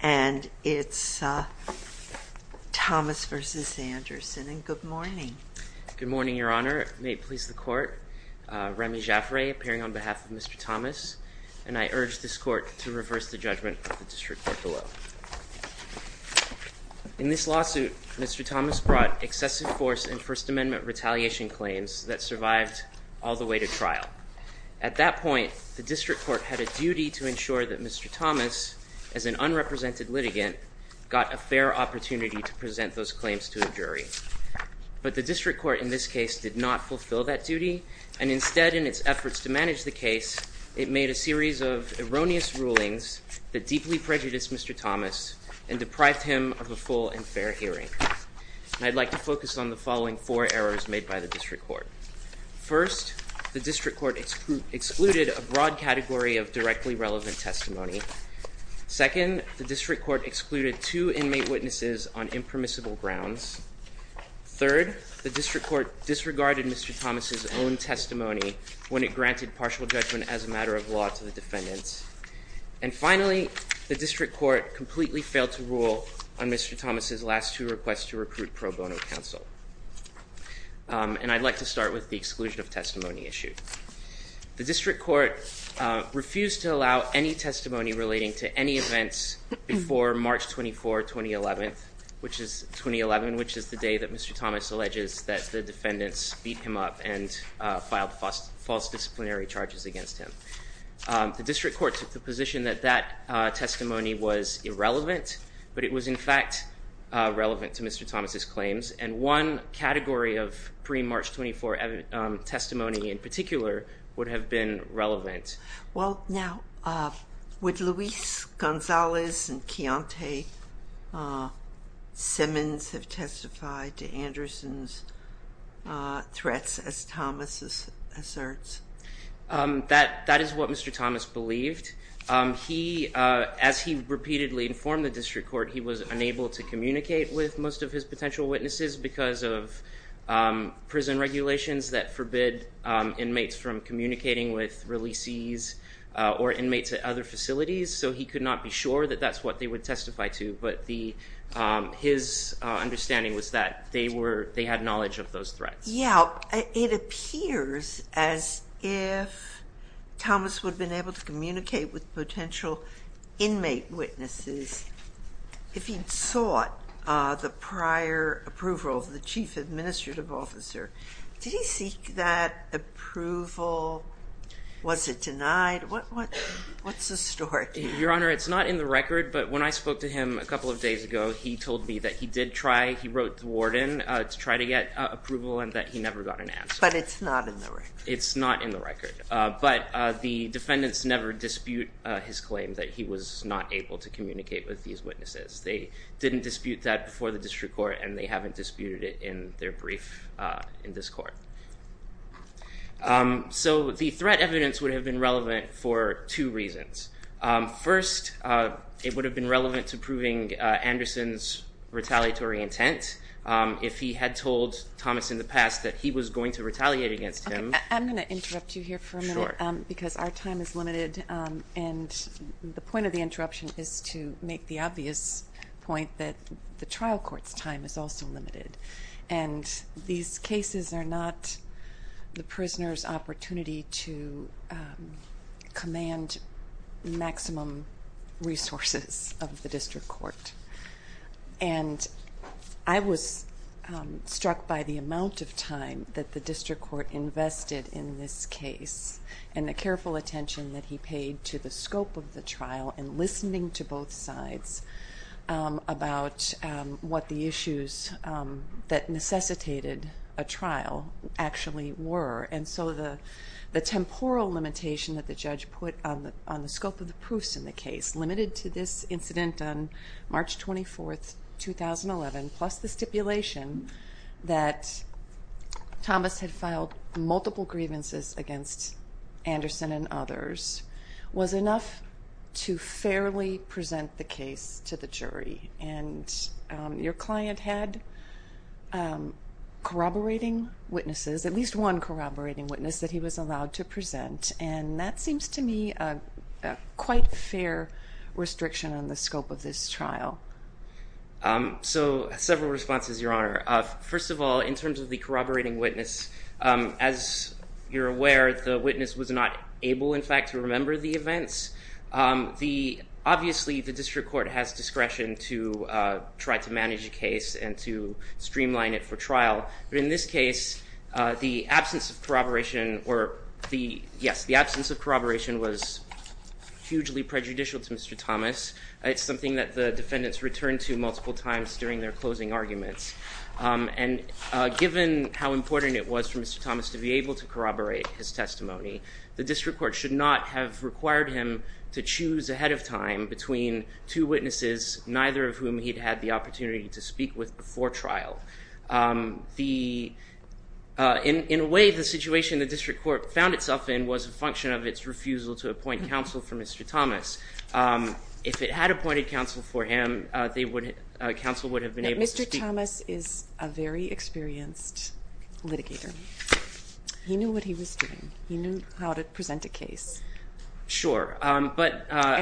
And it's Thomas v. Anderson, and good morning. Good morning, Your Honor. May it please the Court, Remy Jaffray appearing on behalf of Mr. Thomas, and I urge this Court to reverse the judgment of the District Court below. In this lawsuit, Mr. Thomas brought excessive force in First Amendment retaliation claims that survived all the way to trial. At that point, the District Court had a duty to ensure that Mr. Thomas, as an unrepresented litigant, got a fair opportunity to present those claims to a jury. But the District Court in this case did not fulfill that duty, and instead, in its efforts to manage the case, it made a series of erroneous rulings that deeply prejudiced Mr. Thomas and deprived him of a full and fair hearing. And I'd like to focus on the following four errors made by the District Court. First, the District Court excluded a broad category of directly relevant testimony. Second, the District Court excluded two inmate witnesses on impermissible grounds. Third, the District Court disregarded Mr. Thomas' own testimony when it granted partial judgment as a matter of law to the defendants. And finally, the District Court completely failed to rule on Mr. Thomas' last two requests to recruit pro bono counsel. And I'd like to start with the exclusion of testimony issue. The District Court refused to allow any testimony relating to any events before March 24, 2011, which is the day that Mr. Thomas alleges that the defendants beat him up and filed false disciplinary charges against him. The District Court took the position that that testimony was irrelevant, but it was in fact relevant to Mr. Thomas' claims. And one category of pre-March 24 testimony in particular would have been relevant. Well, now, would Luis Gonzalez and Keontae Simmons have testified to Anderson's threats, as Thomas asserts? That is what Mr. Thomas believed. As he repeatedly informed the District Court, he was unable to communicate with most of his potential witnesses because of prison regulations that forbid inmates from communicating with releasees or inmates at other facilities, so he could not be sure that that's what they would testify to. But his understanding was that they had knowledge of those threats. Yeah, it appears as if Thomas would have been able to communicate with potential inmate witnesses if he'd sought the prior approval of the Chief Administrative Officer. Did he seek that approval? Was it denied? What's the story? Your Honor, it's not in the record, but when I spoke to him a couple of days ago, he told me that he did try. He wrote the warden to try to get approval and that he never got an answer. But it's not in the record. It's not in the record. But the defendants never dispute his claim that he was not able to communicate with these witnesses. They didn't dispute that before the District Court, and they haven't disputed it in their brief in this court. So the threat evidence would have been relevant for two reasons. First, it would have been relevant to proving Anderson's retaliatory intent. If he had told Thomas in the past that he was going to retaliate against him. I'm going to interrupt you here for a minute because our time is limited, and the point of the interruption is to make the obvious point that the trial court's time is also limited. And these cases are not the prisoner's opportunity to command maximum resources of the District Court. And I was struck by the amount of time that the District Court invested in this case and the careful attention that he paid to the scope of the trial and listening to both sides about what the issues that necessitated a trial actually were. And so the temporal limitation that the judge put on the scope of the proofs in the case, limited to this incident on March 24, 2011, plus the stipulation that Thomas had filed multiple grievances against Anderson and others, was enough to fairly present the case to the jury. And your client had corroborating witnesses, at least one corroborating witness that he was allowed to present, and that seems to me a quite fair restriction on the scope of this trial. So several responses, Your Honor. First of all, in terms of the corroborating witness, as you're aware, the witness was not able, in fact, to remember the events. Obviously, the District Court has discretion to try to manage a case and to streamline it for trial. But in this case, the absence of corroboration was hugely prejudicial to Mr. Thomas. It's something that the defendants returned to multiple times during their closing arguments. And given how important it was for Mr. Thomas to be able to corroborate his testimony, the District Court should not have required him to choose ahead of time between two witnesses, neither of whom he'd had the opportunity to speak with before trial. In a way, the situation the District Court found itself in was a function of its refusal to appoint counsel for Mr. Thomas. If it had appointed counsel for him, counsel would have been able to speak. Now, Mr. Thomas is a very experienced litigator. He knew what he was doing. He knew how to present a case. Sure. And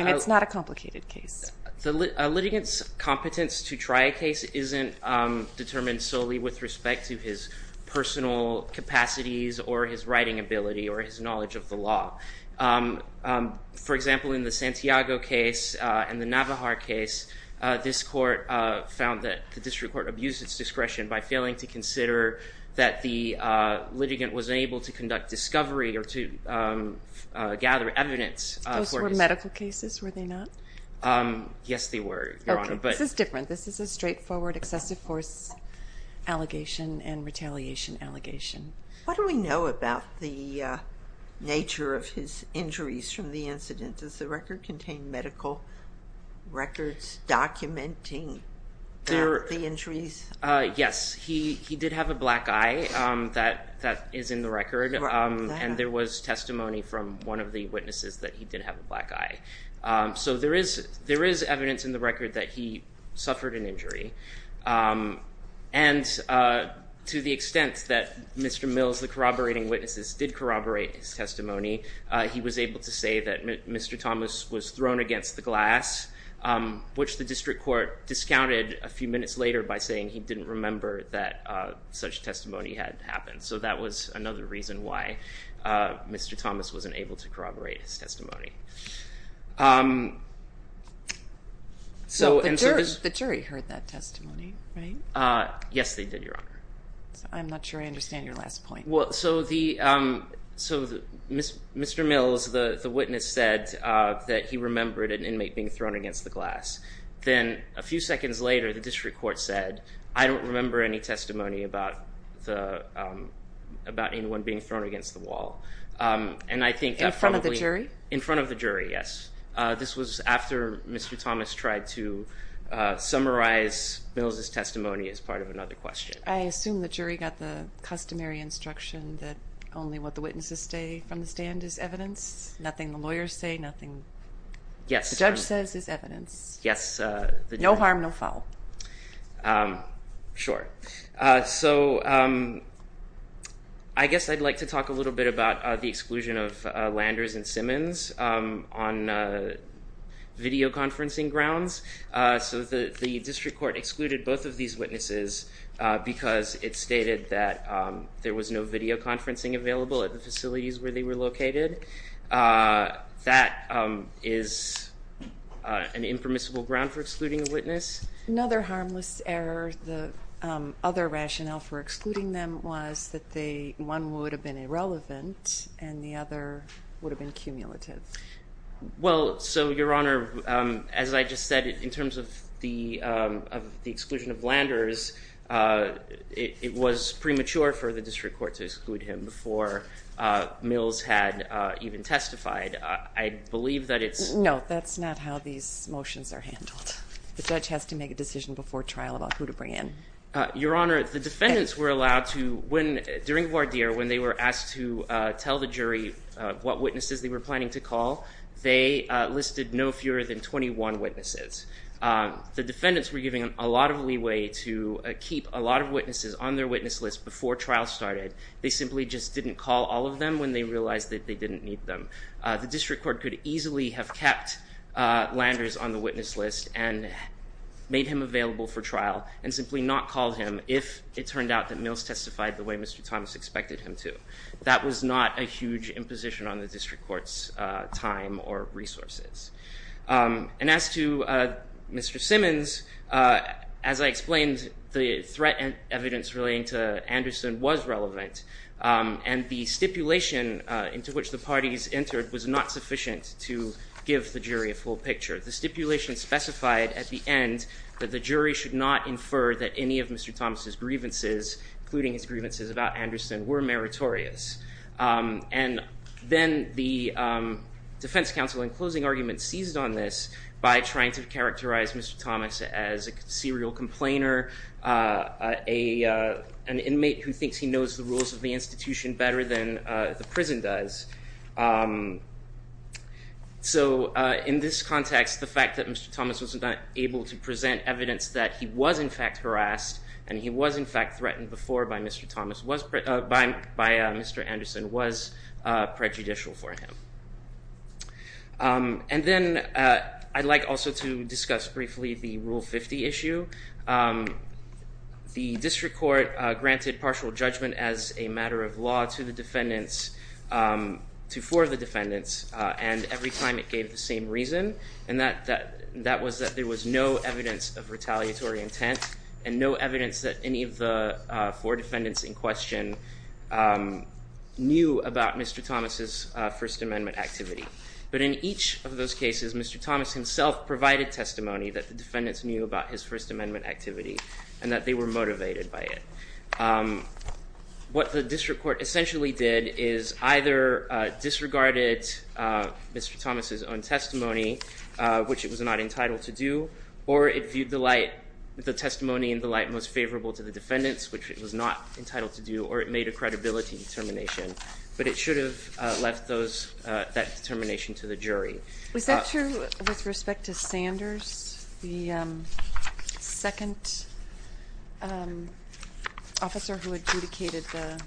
it's not a complicated case. A litigant's competence to try a case isn't determined solely with respect to his personal capacities or his writing ability or his knowledge of the law. For example, in the Santiago case and the Navajar case, this court found that the District Court abused its discretion by failing to consider that the litigant was able to conduct discovery or to gather evidence. Those were medical cases, were they not? Yes, they were, Your Honor. Okay. This is different. This is a straightforward excessive force allegation and retaliation allegation. What do we know about the nature of his injuries from the incident? Does the record contain medical records documenting the injuries? Yes. He did have a black eye. That is in the record. And there was testimony from one of the witnesses that he did have a black eye. So there is evidence in the record that he suffered an injury. And to the extent that Mr. Mills, the corroborating witnesses, did corroborate his testimony, he was able to say that Mr. Thomas was thrown against the glass, which the District Court discounted a few minutes later by saying he didn't remember that such testimony had happened. So that was another reason why Mr. Thomas wasn't able to corroborate his testimony. So the jury heard that testimony, right? Yes, they did, Your Honor. I'm not sure I understand your last point. So Mr. Mills, the witness, said that he remembered an inmate being thrown against the glass. Then a few seconds later, the District Court said, I don't remember any testimony about anyone being thrown against the wall. In front of the jury? In front of the jury, yes. This was after Mr. Thomas tried to summarize Mills' testimony as part of another question. I assume the jury got the customary instruction that only what the witnesses say from the stand is evidence, nothing the lawyers say, nothing the judge says is evidence. Yes. No harm, no foul. Sure. So I guess I'd like to talk a little bit about the exclusion of Landers and Simmons on videoconferencing grounds. So the District Court excluded both of these witnesses because it stated that there was no videoconferencing available at the facilities where they were located. That is an impermissible ground for excluding a witness. Another harmless error, the other rationale for excluding them was that one would have been irrelevant and the other would have been cumulative. Well, so Your Honor, as I just said, in terms of the exclusion of Landers, it was premature for the District Court to exclude him before Mills had even testified. I believe that it's- No, that's not how these motions are handled. The judge has to make a decision before trial about who to bring in. Your Honor, the defendants were allowed to, during voir dire, when they were asked to tell the jury what witnesses they were planning to call, they listed no fewer than 21 witnesses. The defendants were given a lot of leeway to keep a lot of witnesses on their witness list before trial started. They simply just didn't call all of them when they realized that they didn't need them. The District Court could easily have kept Landers on the witness list and made him available for trial and simply not call him if it turned out that Mills testified the way Mr. Thomas expected him to. That was not a huge imposition on the District Court's time or resources. And as to Mr. Simmons, as I explained, the threat evidence relating to Anderson was relevant, and the stipulation into which the parties entered was not sufficient to give the jury a full picture. The stipulation specified at the end that the jury should not infer that any of Mr. Thomas' grievances, including his grievances about Anderson, were meritorious. And then the defense counsel in closing argument seized on this by trying to characterize Mr. Thomas as a serial complainer, an inmate who thinks he knows the rules of the institution better than the prison does. So in this context, the fact that Mr. Thomas was not able to present evidence that he was in fact harassed and he was in fact threatened before by Mr. Anderson was prejudicial for him. And then I'd like also to discuss briefly the Rule 50 issue. The District Court granted partial judgment as a matter of law to the defendants, to four of the defendants, and every time it gave the same reason, and that was that there was no evidence of retaliatory intent and no evidence that any of the four defendants in question knew about Mr. Thomas' First Amendment activity. But in each of those cases, Mr. Thomas himself provided testimony that the defendants knew about his First Amendment activity and that they were motivated by it. What the District Court essentially did is either disregarded Mr. Thomas' own testimony, which it was not entitled to do, or it viewed the testimony in the light most favorable to the defendants, which it was not entitled to do, or it made a credibility determination. But it should have left that determination to the jury. Was that true with respect to Sanders, the second officer who adjudicated the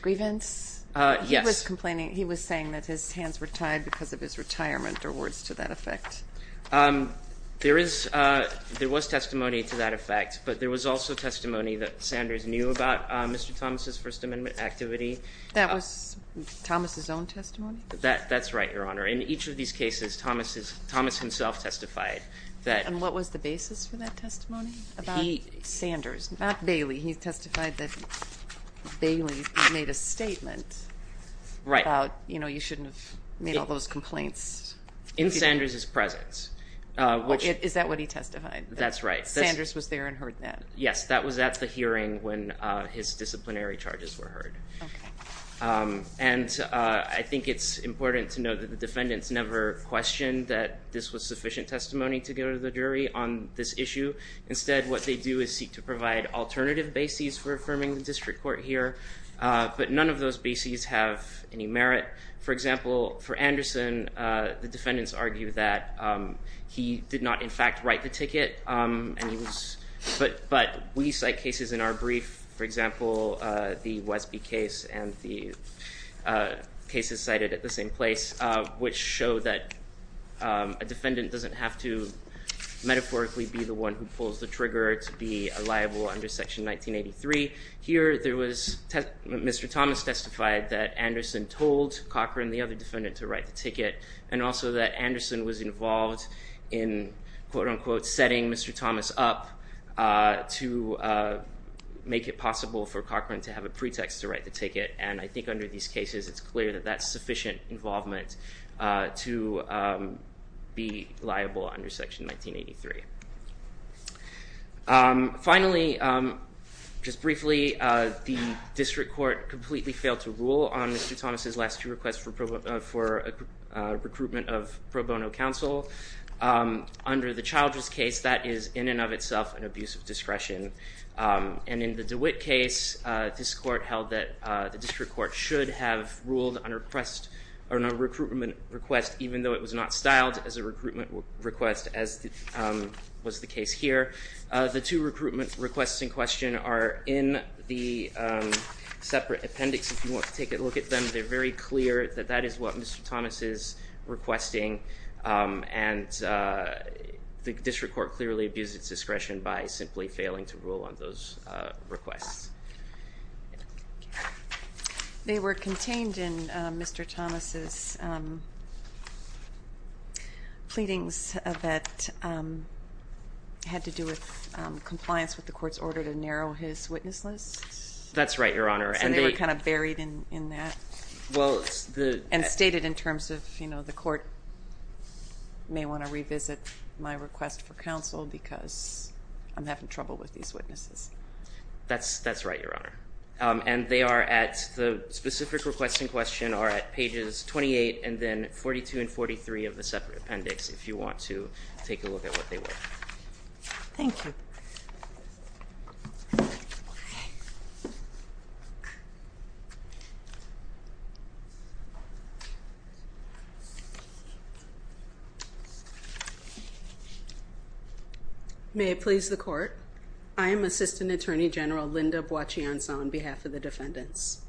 grievance? Yes. He was complaining, he was saying that his hands were tied because of his retirement, or words to that effect. There was testimony to that effect, but there was also testimony that Sanders knew about Mr. Thomas' First Amendment activity. That was Thomas' own testimony? That's right, Your Honor. In each of these cases, Thomas himself testified that. And what was the basis for that testimony about Sanders? Not Bailey. He testified that Bailey made a statement about, you know, you shouldn't have made all those complaints. In Sanders' presence. Is that what he testified? That's right. Sanders was there and heard that? Yes, that was at the hearing when his disciplinary charges were heard. And I think it's important to note that the defendants never questioned that this was sufficient testimony to go to the jury on this issue. Instead, what they do is seek to provide alternative bases for affirming the district court here. But none of those bases have any merit. For example, for Anderson, the defendants argue that he did not, in fact, write the ticket. But we cite cases in our brief, for example, the Wesby case and the cases cited at the same place, which show that a defendant doesn't have to metaphorically be the one who pulls the trigger to be a liable under Section 1983. Here, Mr. Thomas testified that Anderson told Cochran, the other defendant, to write the ticket, and also that Anderson was involved in quote-unquote setting Mr. Thomas up to make it possible for Cochran to have a pretext to write the ticket. And I think under these cases, it's clear that that's sufficient involvement to be liable under Section 1983. Finally, just briefly, the district court completely failed to rule on Mr. Thomas' last two requests for recruitment of pro bono counsel. Under the Childress case, that is in and of itself an abuse of discretion. And in the DeWitt case, this court held that the district court should have ruled on a request, on a recruitment request, even though it was not styled as a recruitment request as was the case here. The two recruitment requests in question are in the separate appendix. If you want to take a look at them, they're very clear that that is what Mr. Thomas is requesting. And the district court clearly abused its discretion by simply failing to rule on those requests. They were contained in Mr. Thomas' pleadings that had to do with compliance with the court's order to narrow his witness list. That's right, Your Honor. And they were kind of buried in that. Well, it's the... And stated in terms of, you know, the court may want to revisit my request for counsel because I'm having trouble with these witnesses. That's right, Your Honor. And they are at... The specific requests in question are at pages 28 and then 42 and 43 of the separate appendix if you want to take a look at what they were. Thank you. May it please the court. I am Assistant Attorney General Linda Boachiansaw on behalf of the defendants.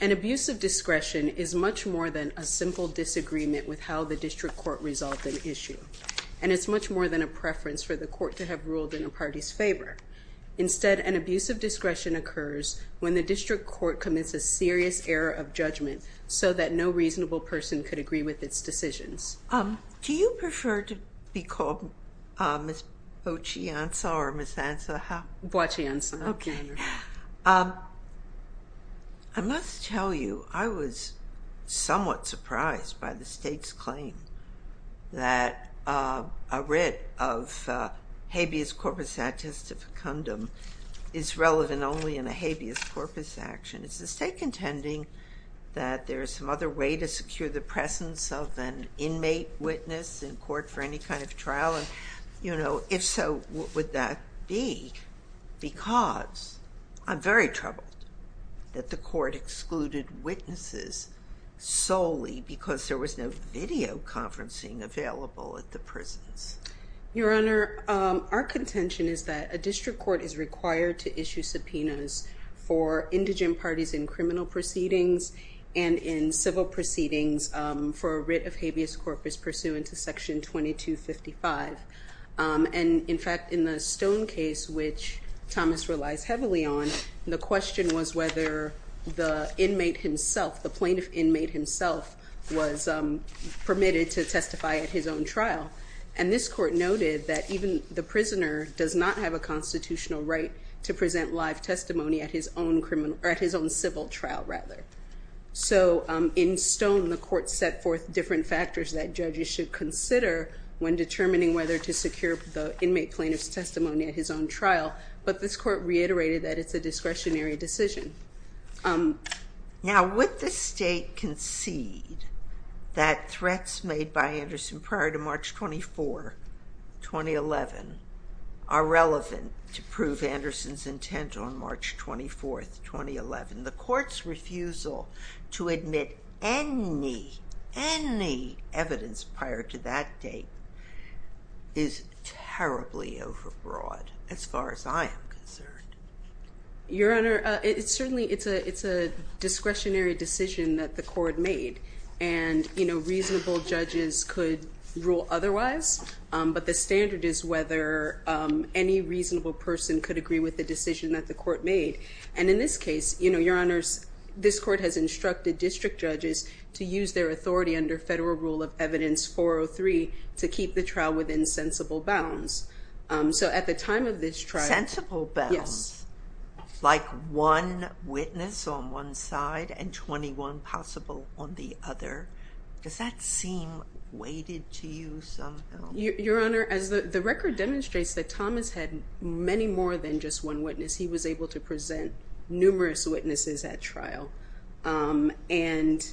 An abuse of discretion is much more than a simple disagreement with how the district court resolved an issue. And it's much more than a preference for the court to have ruled in a party's favor. Instead, an abuse of discretion occurs when the district court commits a serious error of judgment so that no reasonable person could agree with its decisions. Do you prefer to be called Ms. Boachiansaw or Ms. Ansahau? Boachiansaw. Okay. I must tell you, I was somewhat surprised by the state's claim that a writ of habeas corpus attestificandum is relevant only in a habeas corpus action. Is the state contending that there is some other way to secure the presence of an inmate witness in court for any kind of trial? And, you know, if so, what would that be? Because I'm very troubled that the court excluded witnesses solely because there was no video conferencing available at the prisons. Your Honor, our contention is that a district court is required to issue subpoenas for indigent parties in criminal proceedings and in civil proceedings for a writ of habeas corpus pursuant to Section 2255. And, in fact, in the Stone case, which Thomas relies heavily on, the question was whether the inmate himself, the plaintiff inmate himself, was permitted to testify at his own trial. And this court noted that even the prisoner does not have a constitutional right to present live testimony at his own civil trial, rather. So, in Stone, the court set forth different factors that judges should consider when determining whether to secure the inmate plaintiff's testimony at his own trial. But this court reiterated that it's a discretionary decision. Now, would the State concede that threats made by Anderson prior to March 24, 2011, are relevant to prove Anderson's intent on March 24, 2011? The Court's refusal to admit any, any evidence prior to that date is terribly overbroad, as far as I am concerned. Your Honor, it's certainly, it's a, it's a discretionary decision that the court made. And, you know, reasonable judges could rule otherwise. But the standard is whether any reasonable person could agree with the decision that the court made. And in this case, you know, Your Honors, this court has instructed district judges to use their authority under Federal Rule of Evidence 403 to keep the trial within sensible bounds. So, at the time of this trial… Sensible bounds? Yes. Like one witness on one side and 21 possible on the other? Does that seem weighted to you somehow? Your Honor, as the record demonstrates that Thomas had many more than just one witness. He was able to present numerous witnesses at trial. And,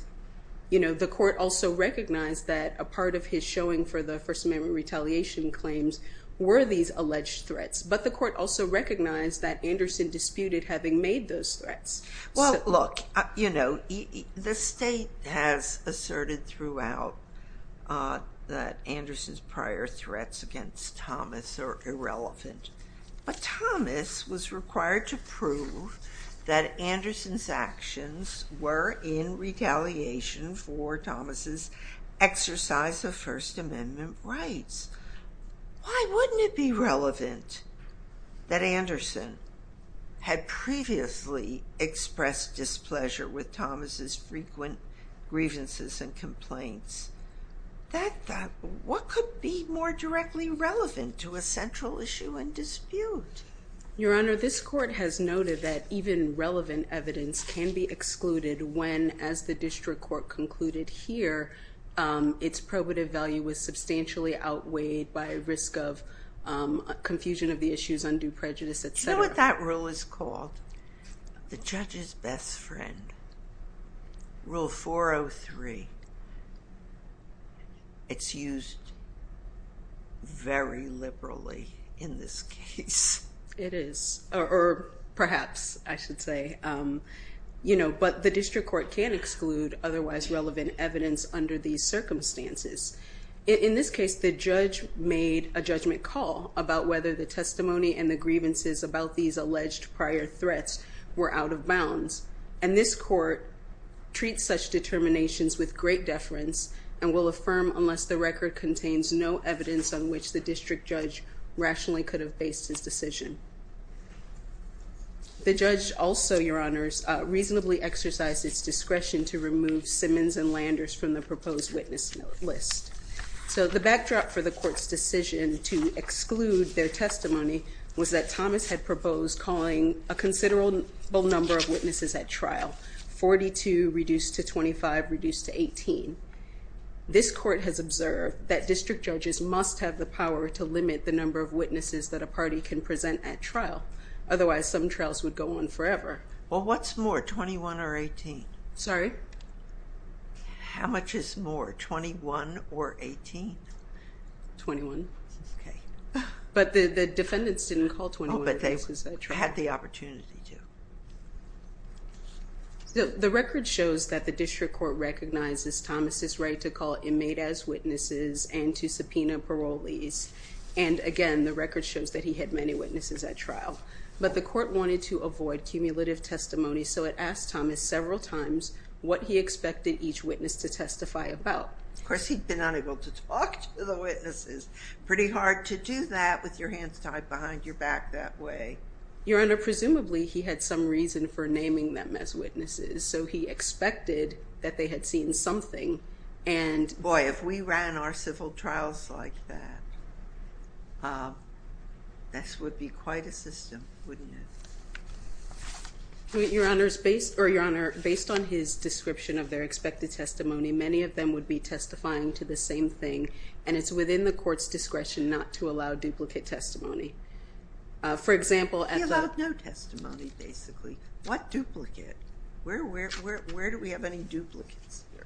you know, the court also recognized that a part of his showing for the First Amendment retaliation claims were these alleged threats. But the court also recognized that Anderson disputed having made those threats. Well, look, you know, the State has asserted throughout that Anderson's prior threats against Thomas are irrelevant. But Thomas was required to prove that Anderson's actions were in retaliation for Thomas's exercise of First Amendment rights. Why wouldn't it be relevant that Anderson had previously expressed displeasure with Thomas's frequent grievances and complaints? What could be more directly relevant to a central issue and dispute? Your Honor, this court has noted that even relevant evidence can be excluded when, as the district court concluded here, its probative value was substantially outweighed by risk of confusion of the issues, undue prejudice, etc. Do you know what that rule is called? The judge's best friend. Rule 403. It's used very liberally in this case. It is, or perhaps, I should say. You know, but the district court can exclude otherwise relevant evidence under these circumstances. In this case, the judge made a judgment call about whether the testimony and the grievances about these alleged prior threats were out of bounds. And this court treats such determinations with great deference and will affirm unless the record contains no evidence on which the district judge rationally could have based his decision. The judge also, Your Honors, reasonably exercised its discretion to remove Simmons and Landers from the proposed witness list. So the backdrop for the court's decision to exclude their testimony was that Thomas had proposed calling a considerable number of witnesses at trial, 42 reduced to 25 reduced to 18. This court has observed that district judges must have the power to limit the number of witnesses that a party can present at trial. Otherwise, some trials would go on forever. Well, what's more, 21 or 18? Sorry? How much is more, 21 or 18? 21. Okay. But the defendants didn't call 21. Oh, but they had the opportunity to. The record shows that the district court recognizes Thomas' right to call inmate as witnesses and to subpoena parolees. And again, the record shows that he had many witnesses at trial. But the court wanted to avoid cumulative testimony, so it asked Thomas several times what he expected each witness to testify about. Of course, he'd been unable to talk to the witnesses. Pretty hard to do that with your hands tied behind your back that way. Your Honor, presumably he had some reason for naming them as witnesses. So he expected that they had seen something and Boy, if we ran our civil trials like that, this would be quite a system, wouldn't it? Your Honor, based on his description of their expected testimony, many of them would be testifying to the same thing. And it's within the court's discretion not to allow duplicate testimony. He allowed no testimony, basically. What duplicate? Where do we have any duplicates here?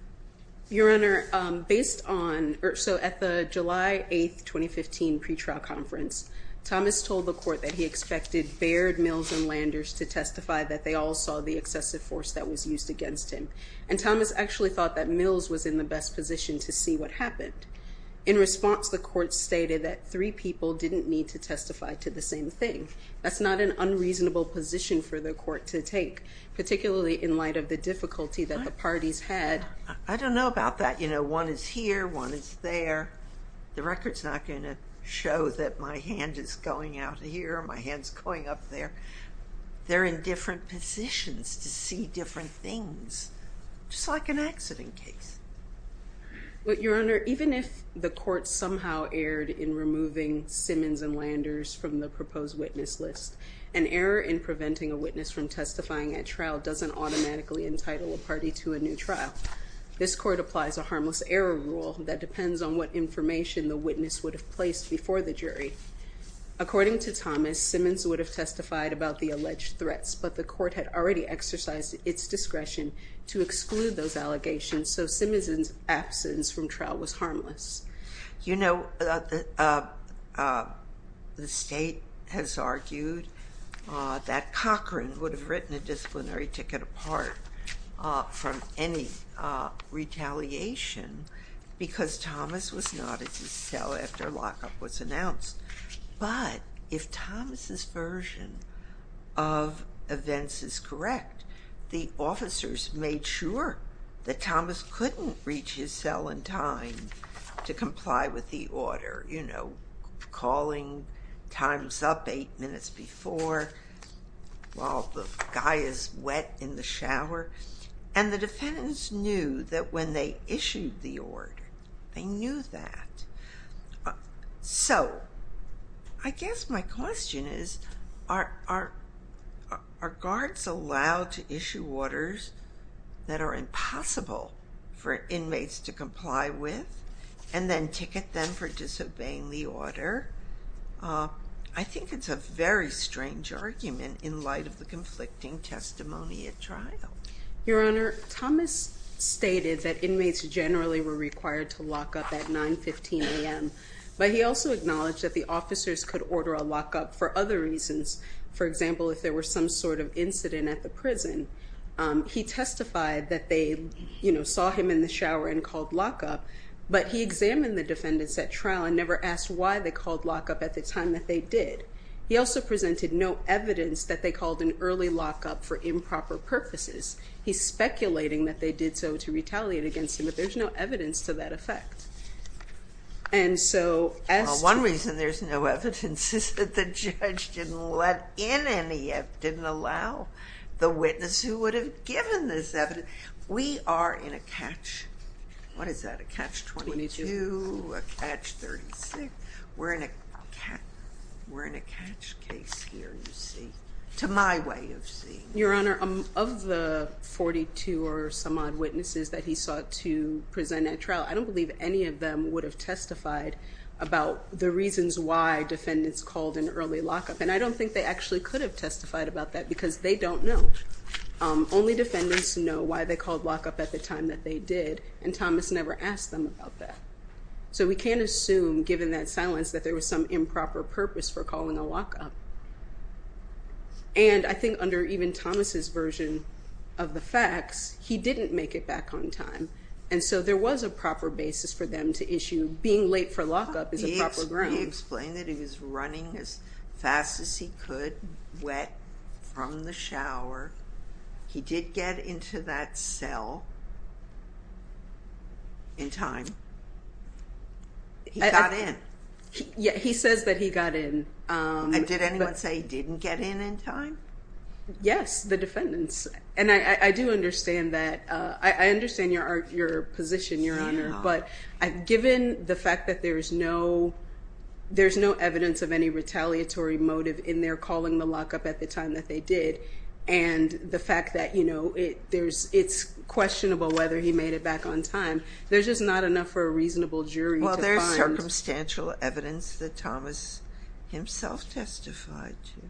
Your Honor, at the July 8, 2015 pretrial conference, Thomas told the court that he expected Baird, Mills, and Landers to testify that they all saw the excessive force that was used against him. And Thomas actually thought that Mills was in the best position to see what happened. In response, the court stated that three people didn't need to testify to the same thing. That's not an unreasonable position for the court to take, particularly in light of the difficulty that the parties had. I don't know about that. You know, one is here, one is there. The record's not going to show that my hand is going out here or my hand's going up there. They're in different positions to see different things, just like an accident case. Your Honor, even if the court somehow erred in removing Simmons and Landers from the proposed witness list, an error in preventing a witness from testifying at trial doesn't automatically entitle a party to a new trial. This court applies a harmless error rule that depends on what information the witness would have placed before the jury. According to Thomas, Simmons would have testified about the alleged threats, but the court had already exercised its discretion to exclude those allegations, so Simmons' absence from trial was harmless. You know, the State has argued that Cochran would have written a disciplinary ticket apart from any retaliation because Thomas was not at his cell after lockup was announced. But if Thomas' version of events is correct, the officers made sure that Thomas couldn't reach his cell in time to comply with the order, you know, calling times up eight minutes before while the guy is wet in the shower. And the defendants knew that when they issued the order, they knew that. So I guess my question is, are guards allowed to issue orders that are impossible for inmates to comply with and then ticket them for disobeying the order? I think it's a very strange argument in light of the conflicting testimony at trial. Your Honor, Thomas stated that inmates generally were required to lock up at 9.15 a.m., but he also acknowledged that the officers could order a lockup for other reasons. For example, if there were some sort of incident at the prison, he testified that they, you know, saw him in the shower and called lockup, but he examined the defendants at trial and never asked why they called lockup at the time that they did. He also presented no evidence that they called an early lockup for improper purposes. He's speculating that they did so to retaliate against him, but there's no evidence to that effect. One reason there's no evidence is that the judge didn't let in any, didn't allow the witness who would have given this evidence. We are in a catch, what is that, a catch 22, a catch 36. We're in a catch case here, you see, to my way of seeing it. Your Honor, of the 42 or some odd witnesses that he sought to present at trial, I don't believe any of them would have testified about the reasons why defendants called an early lockup. And I don't think they actually could have testified about that because they don't know. Only defendants know why they called lockup at the time that they did, and Thomas never asked them about that. So we can't assume, given that silence, that there was some improper purpose for calling a lockup. And I think under even Thomas's version of the facts, he didn't make it back on time. And so there was a proper basis for them to issue being late for lockup is a proper ground. He explained that he was running as fast as he could, wet from the shower. He did get into that cell in time. He got in. Yeah, he says that he got in. And did anyone say he didn't get in in time? Yes, the defendants. And I do understand that. I understand your position, Your Honor. But given the fact that there's no evidence of any retaliatory motive in their calling the lockup at the time that they did, and the fact that, you know, it's questionable whether he made it back on time. There's just not enough for a reasonable jury to find. There's no circumstantial evidence that Thomas himself testified to.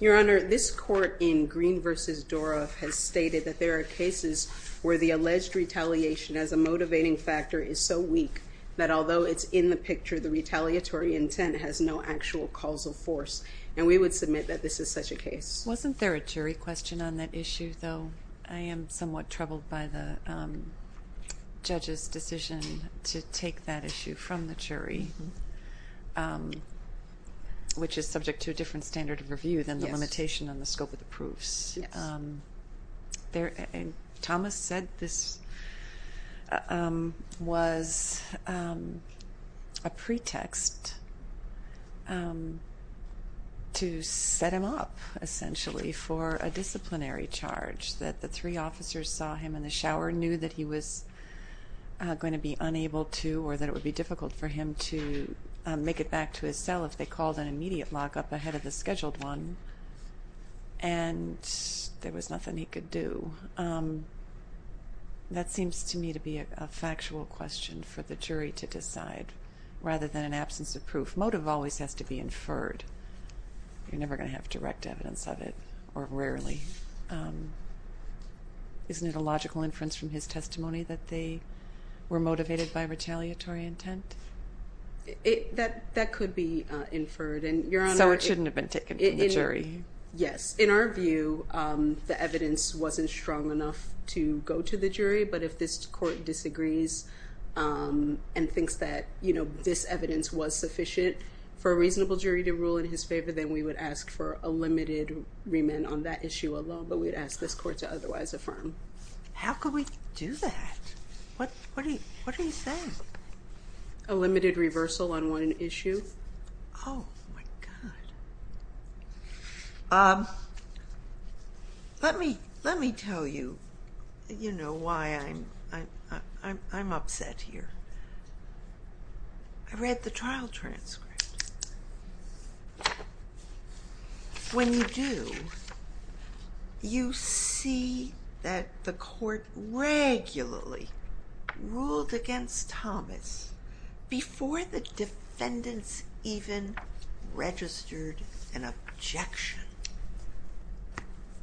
Your Honor, this court in Green v. Doroff has stated that there are cases where the alleged retaliation as a motivating factor is so weak that although it's in the picture, the retaliatory intent has no actual causal force. And we would submit that this is such a case. Wasn't there a jury question on that issue, though? I am somewhat troubled by the judge's decision to take that issue from the jury, which is subject to a different standard of review than the limitation on the scope of the proofs. Thomas said this was a pretext to set him up, essentially, for a disciplinary charge, that the three officers saw him in the shower, knew that he was going to be unable to or that it would be difficult for him to make it back to his cell if they called an immediate lockup ahead of the scheduled one. And there was nothing he could do. That seems to me to be a factual question for the jury to decide, rather than an absence of proof. Motive always has to be inferred. You're never going to have direct evidence of it, or rarely. Isn't it a logical inference from his testimony that they were motivated by retaliatory intent? That could be inferred. So it shouldn't have been taken from the jury? Yes. In our view, the evidence wasn't strong enough to go to the jury. But if this court disagrees and thinks that this evidence was sufficient for a reasonable jury to rule in his favor, then we would ask for a limited remand on that issue alone. But we'd ask this court to otherwise affirm. How could we do that? What did he say? A limited reversal on one issue. Oh, my God. Let me tell you, you know, why I'm upset here. I read the trial transcript. When you do, you see that the court regularly ruled against Thomas before the defendants even registered an objection.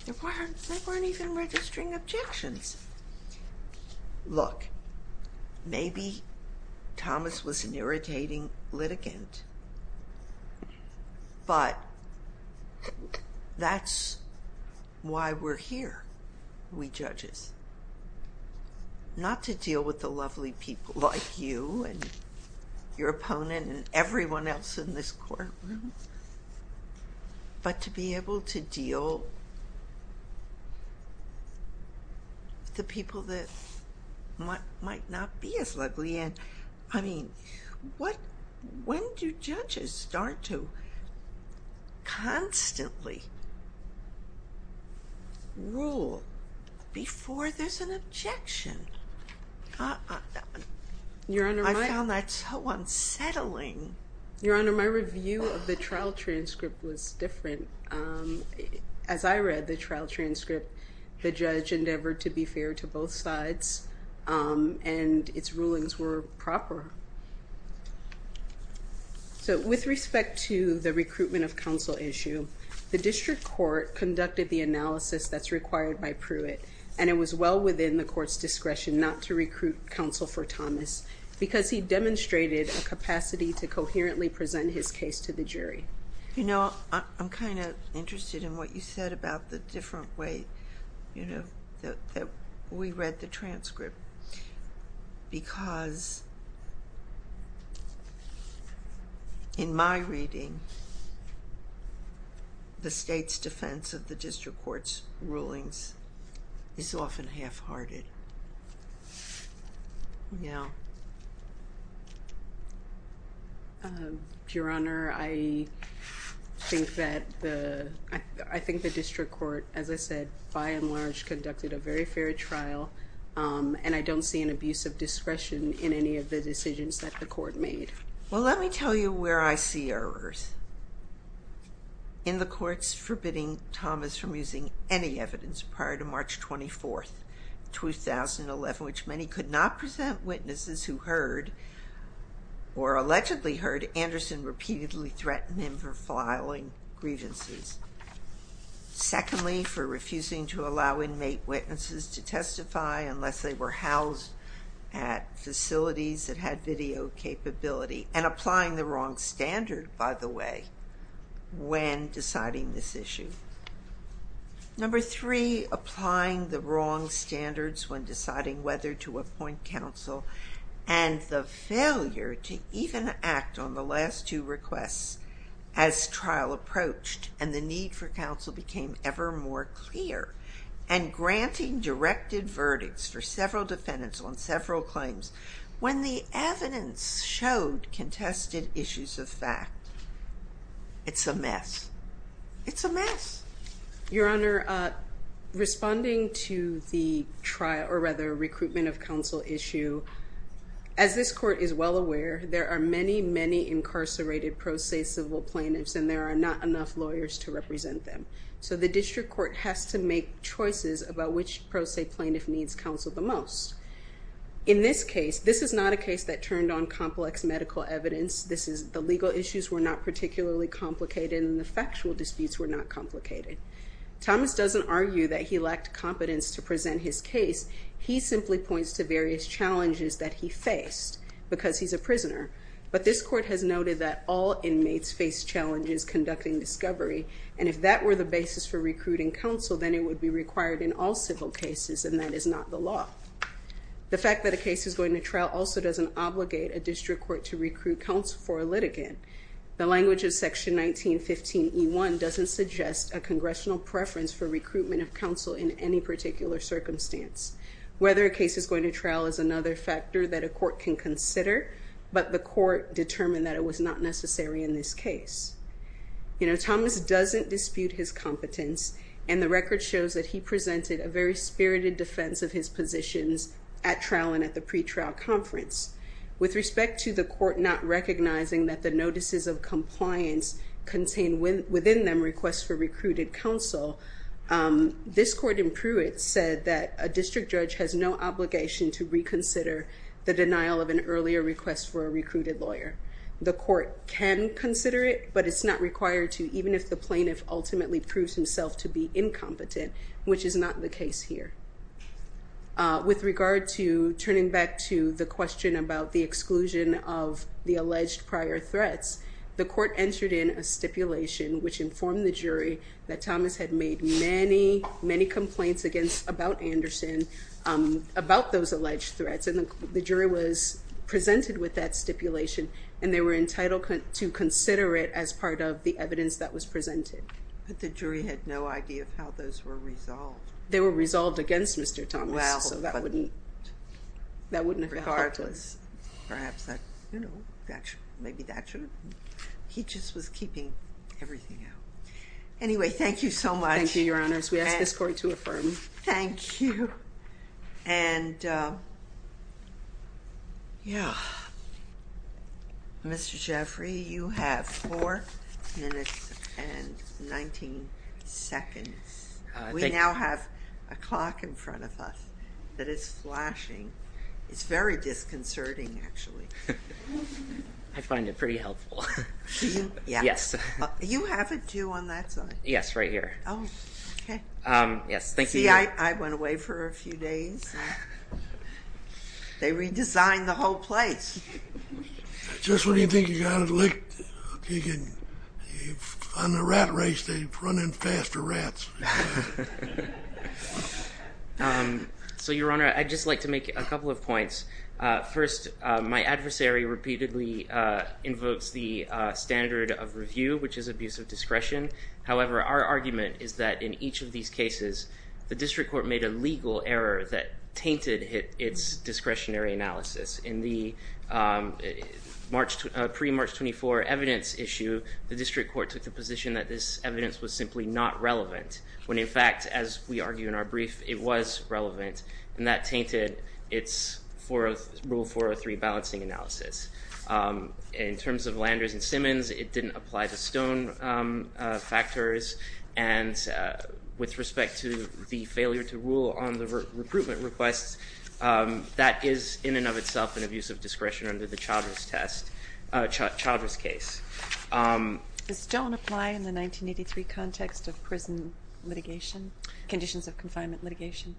They weren't even registering objections. Look, maybe Thomas was an irritating litigant, but that's why we're here, we judges. Not to deal with the lovely people like you and your opponent and everyone else in this courtroom, but to be able to deal with the people that might not be as lovely. I mean, when do judges start to constantly rule before there's an objection? I found that so unsettling. Your Honor, my review of the trial transcript was different. As I read the trial transcript, the judge endeavored to be fair to both sides, and its rulings were proper. So with respect to the recruitment of counsel issue, the district court conducted the analysis that's required by Pruitt, and it was well within the court's discretion not to recruit counsel for Thomas because he demonstrated a capacity to coherently present his case to the jury. You know, I'm kind of interested in what you said about the different way that we read the transcript, because in my reading, the state's defense of the district court's rulings is often half-hearted. Your Honor, I think that the district court, as I said, by and large conducted a very fair trial, and I don't see an abuse of discretion in any of the decisions that the court made. Well, let me tell you where I see errors. In the courts forbidding Thomas from using any evidence prior to March 24th, 2011, which many could not present witnesses who heard or allegedly heard Anderson repeatedly threaten him for filing grievances. Secondly, for refusing to allow inmate witnesses to testify unless they were housed at facilities that had video capability, and applying the wrong standard, by the way, when deciding this issue. Number three, applying the wrong standards when deciding whether to appoint counsel, and the failure to even act on the last two requests as trial approached, and the need for counsel became ever more clear, and granting directed verdicts for several defendants on several claims when the evidence showed contested issues of fact. It's a mess. It's a mess. Your Honor, responding to the trial, or rather recruitment of counsel issue, as this court is well aware, there are many, many incarcerated pro se civil plaintiffs, and there are not enough lawyers to represent them. So the district court has to make choices about which pro se plaintiff needs counsel the most. In this case, this is not a case that turned on complex medical evidence. The legal issues were not particularly complicated, and the factual disputes were not complicated. Thomas doesn't argue that he lacked competence to present his case. He simply points to various challenges that he faced because he's a prisoner, but this court has noted that all inmates face challenges conducting discovery, and if that were the basis for recruiting counsel, then it would be required in all civil cases, and that is not the law. The fact that a case is going to trial also doesn't obligate a district court to recruit counsel for a litigant. The language of section 1915E1 doesn't suggest a congressional preference for recruitment of counsel in any particular circumstance. Whether a case is going to trial is another factor that a court can consider, but the court determined that it was not necessary in this case. You know, Thomas doesn't dispute his competence, and the record shows that he presented a very spirited defense of his positions at trial and at the pretrial conference. With respect to the court not recognizing that the notices of compliance contain within them requests for recruited counsel, this court in Pruitt said that a district judge has no obligation to reconsider the denial of an earlier request for a recruited lawyer. The court can consider it, but it's not required to, even if the plaintiff ultimately proves himself to be incompetent, which is not the case here. With regard to turning back to the question about the exclusion of the alleged prior threats, the court entered in a stipulation which informed the jury that Thomas had made many, many complaints about Anderson, about those alleged threats, and the jury was presented with that stipulation, and they were entitled to consider it as part of the evidence that was presented. But the jury had no idea of how those were resolved. They were resolved against Mr. Thomas, so that wouldn't have helped us. Perhaps that, you know, maybe that should have been, he just was keeping everything out. Anyway, thank you so much. Thank you, Your Honors. We ask this court to affirm. Thank you. And, yeah. Mr. Jeffrey, you have four minutes and 19 seconds. We now have a clock in front of us that is flashing. It's very disconcerting, actually. I find it pretty helpful. Do you? Yes. You have it, too, on that side? Yes, right here. Oh, okay. Yes, thank you. See, I went away for a few days. They redesigned the whole place. Just what do you think you got at the lake? On the rat race, they're running faster rats. First, my adversary repeatedly invokes the standard of review, which is abuse of discretion. However, our argument is that in each of these cases, the district court made a legal error that tainted its discretionary analysis. In the pre-March 24 evidence issue, the district court took the position that this evidence was simply not relevant, when in fact, as we argue in our brief, it was relevant, and that tainted its Rule 403 balancing analysis. In terms of Landers and Simmons, it didn't apply the Stone factors, and with respect to the failure to rule on the recruitment requests, that is in and of itself an abuse of discretion under the Child Risk case. Does Stone apply in the 1983 context of prison litigation, conditions of confinement litigation?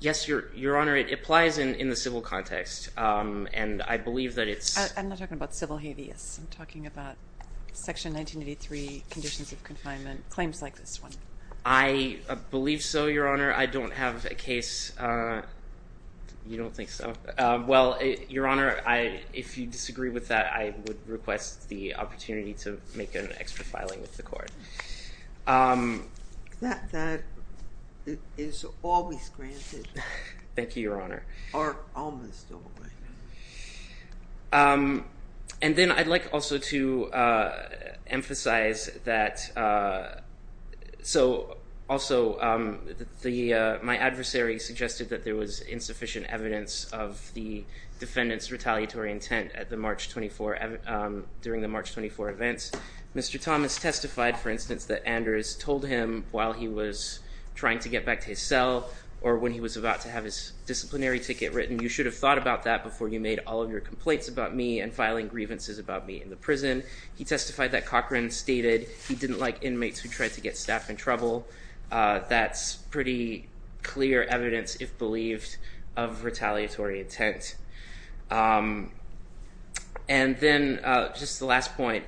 Yes, Your Honor. It applies in the civil context, and I believe that it's- I'm not talking about civil habeas. I'm talking about Section 1983 conditions of confinement, claims like this one. I believe so, Your Honor. I don't have a case. You don't think so? Well, Your Honor, if you disagree with that, I would request the opportunity to make an extra filing with the court. That is always granted. Thank you, Your Honor. Or almost always. And then I'd like also to emphasize that- So also, my adversary suggested that there was insufficient evidence of the defendant's retaliatory intent at the March 24- during the March 24 events. Mr. Thomas testified, for instance, that Anders told him while he was trying to get back to his cell or when he was about to have his disciplinary ticket written, you should have thought about that before you made all of your complaints about me and filing grievances about me in the prison. He testified that Cochran stated he didn't like inmates who tried to get staff in trouble. That's pretty clear evidence, if believed, of retaliatory intent. And then just the last point.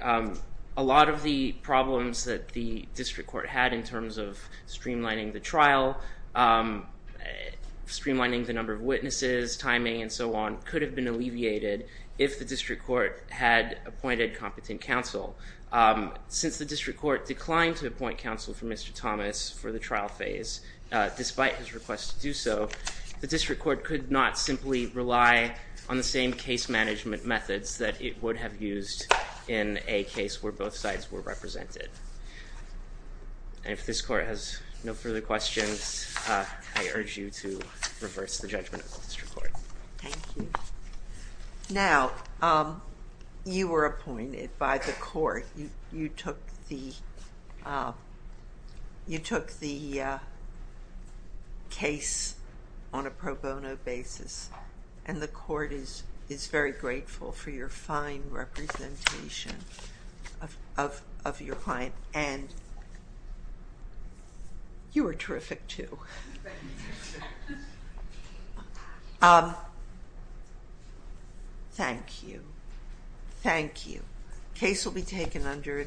A lot of the problems that the district court had in terms of streamlining the trial, streamlining the number of witnesses, timing, and so on, could have been alleviated if the district court had appointed competent counsel. Since the district court declined to appoint counsel for Mr. Thomas for the trial phase, despite his request to do so, the district court could not simply rely on the same case management methods that it would have used in a case where both sides were represented. And if this court has no further questions, I urge you to reverse the judgment of the district court. Thank you. Now, you were appointed by the court. You took the case on a pro bono basis, and the court is very grateful for your fine representation of your client, and you were terrific, too. Well, thank you. Thank you. Case will be taken under advisement.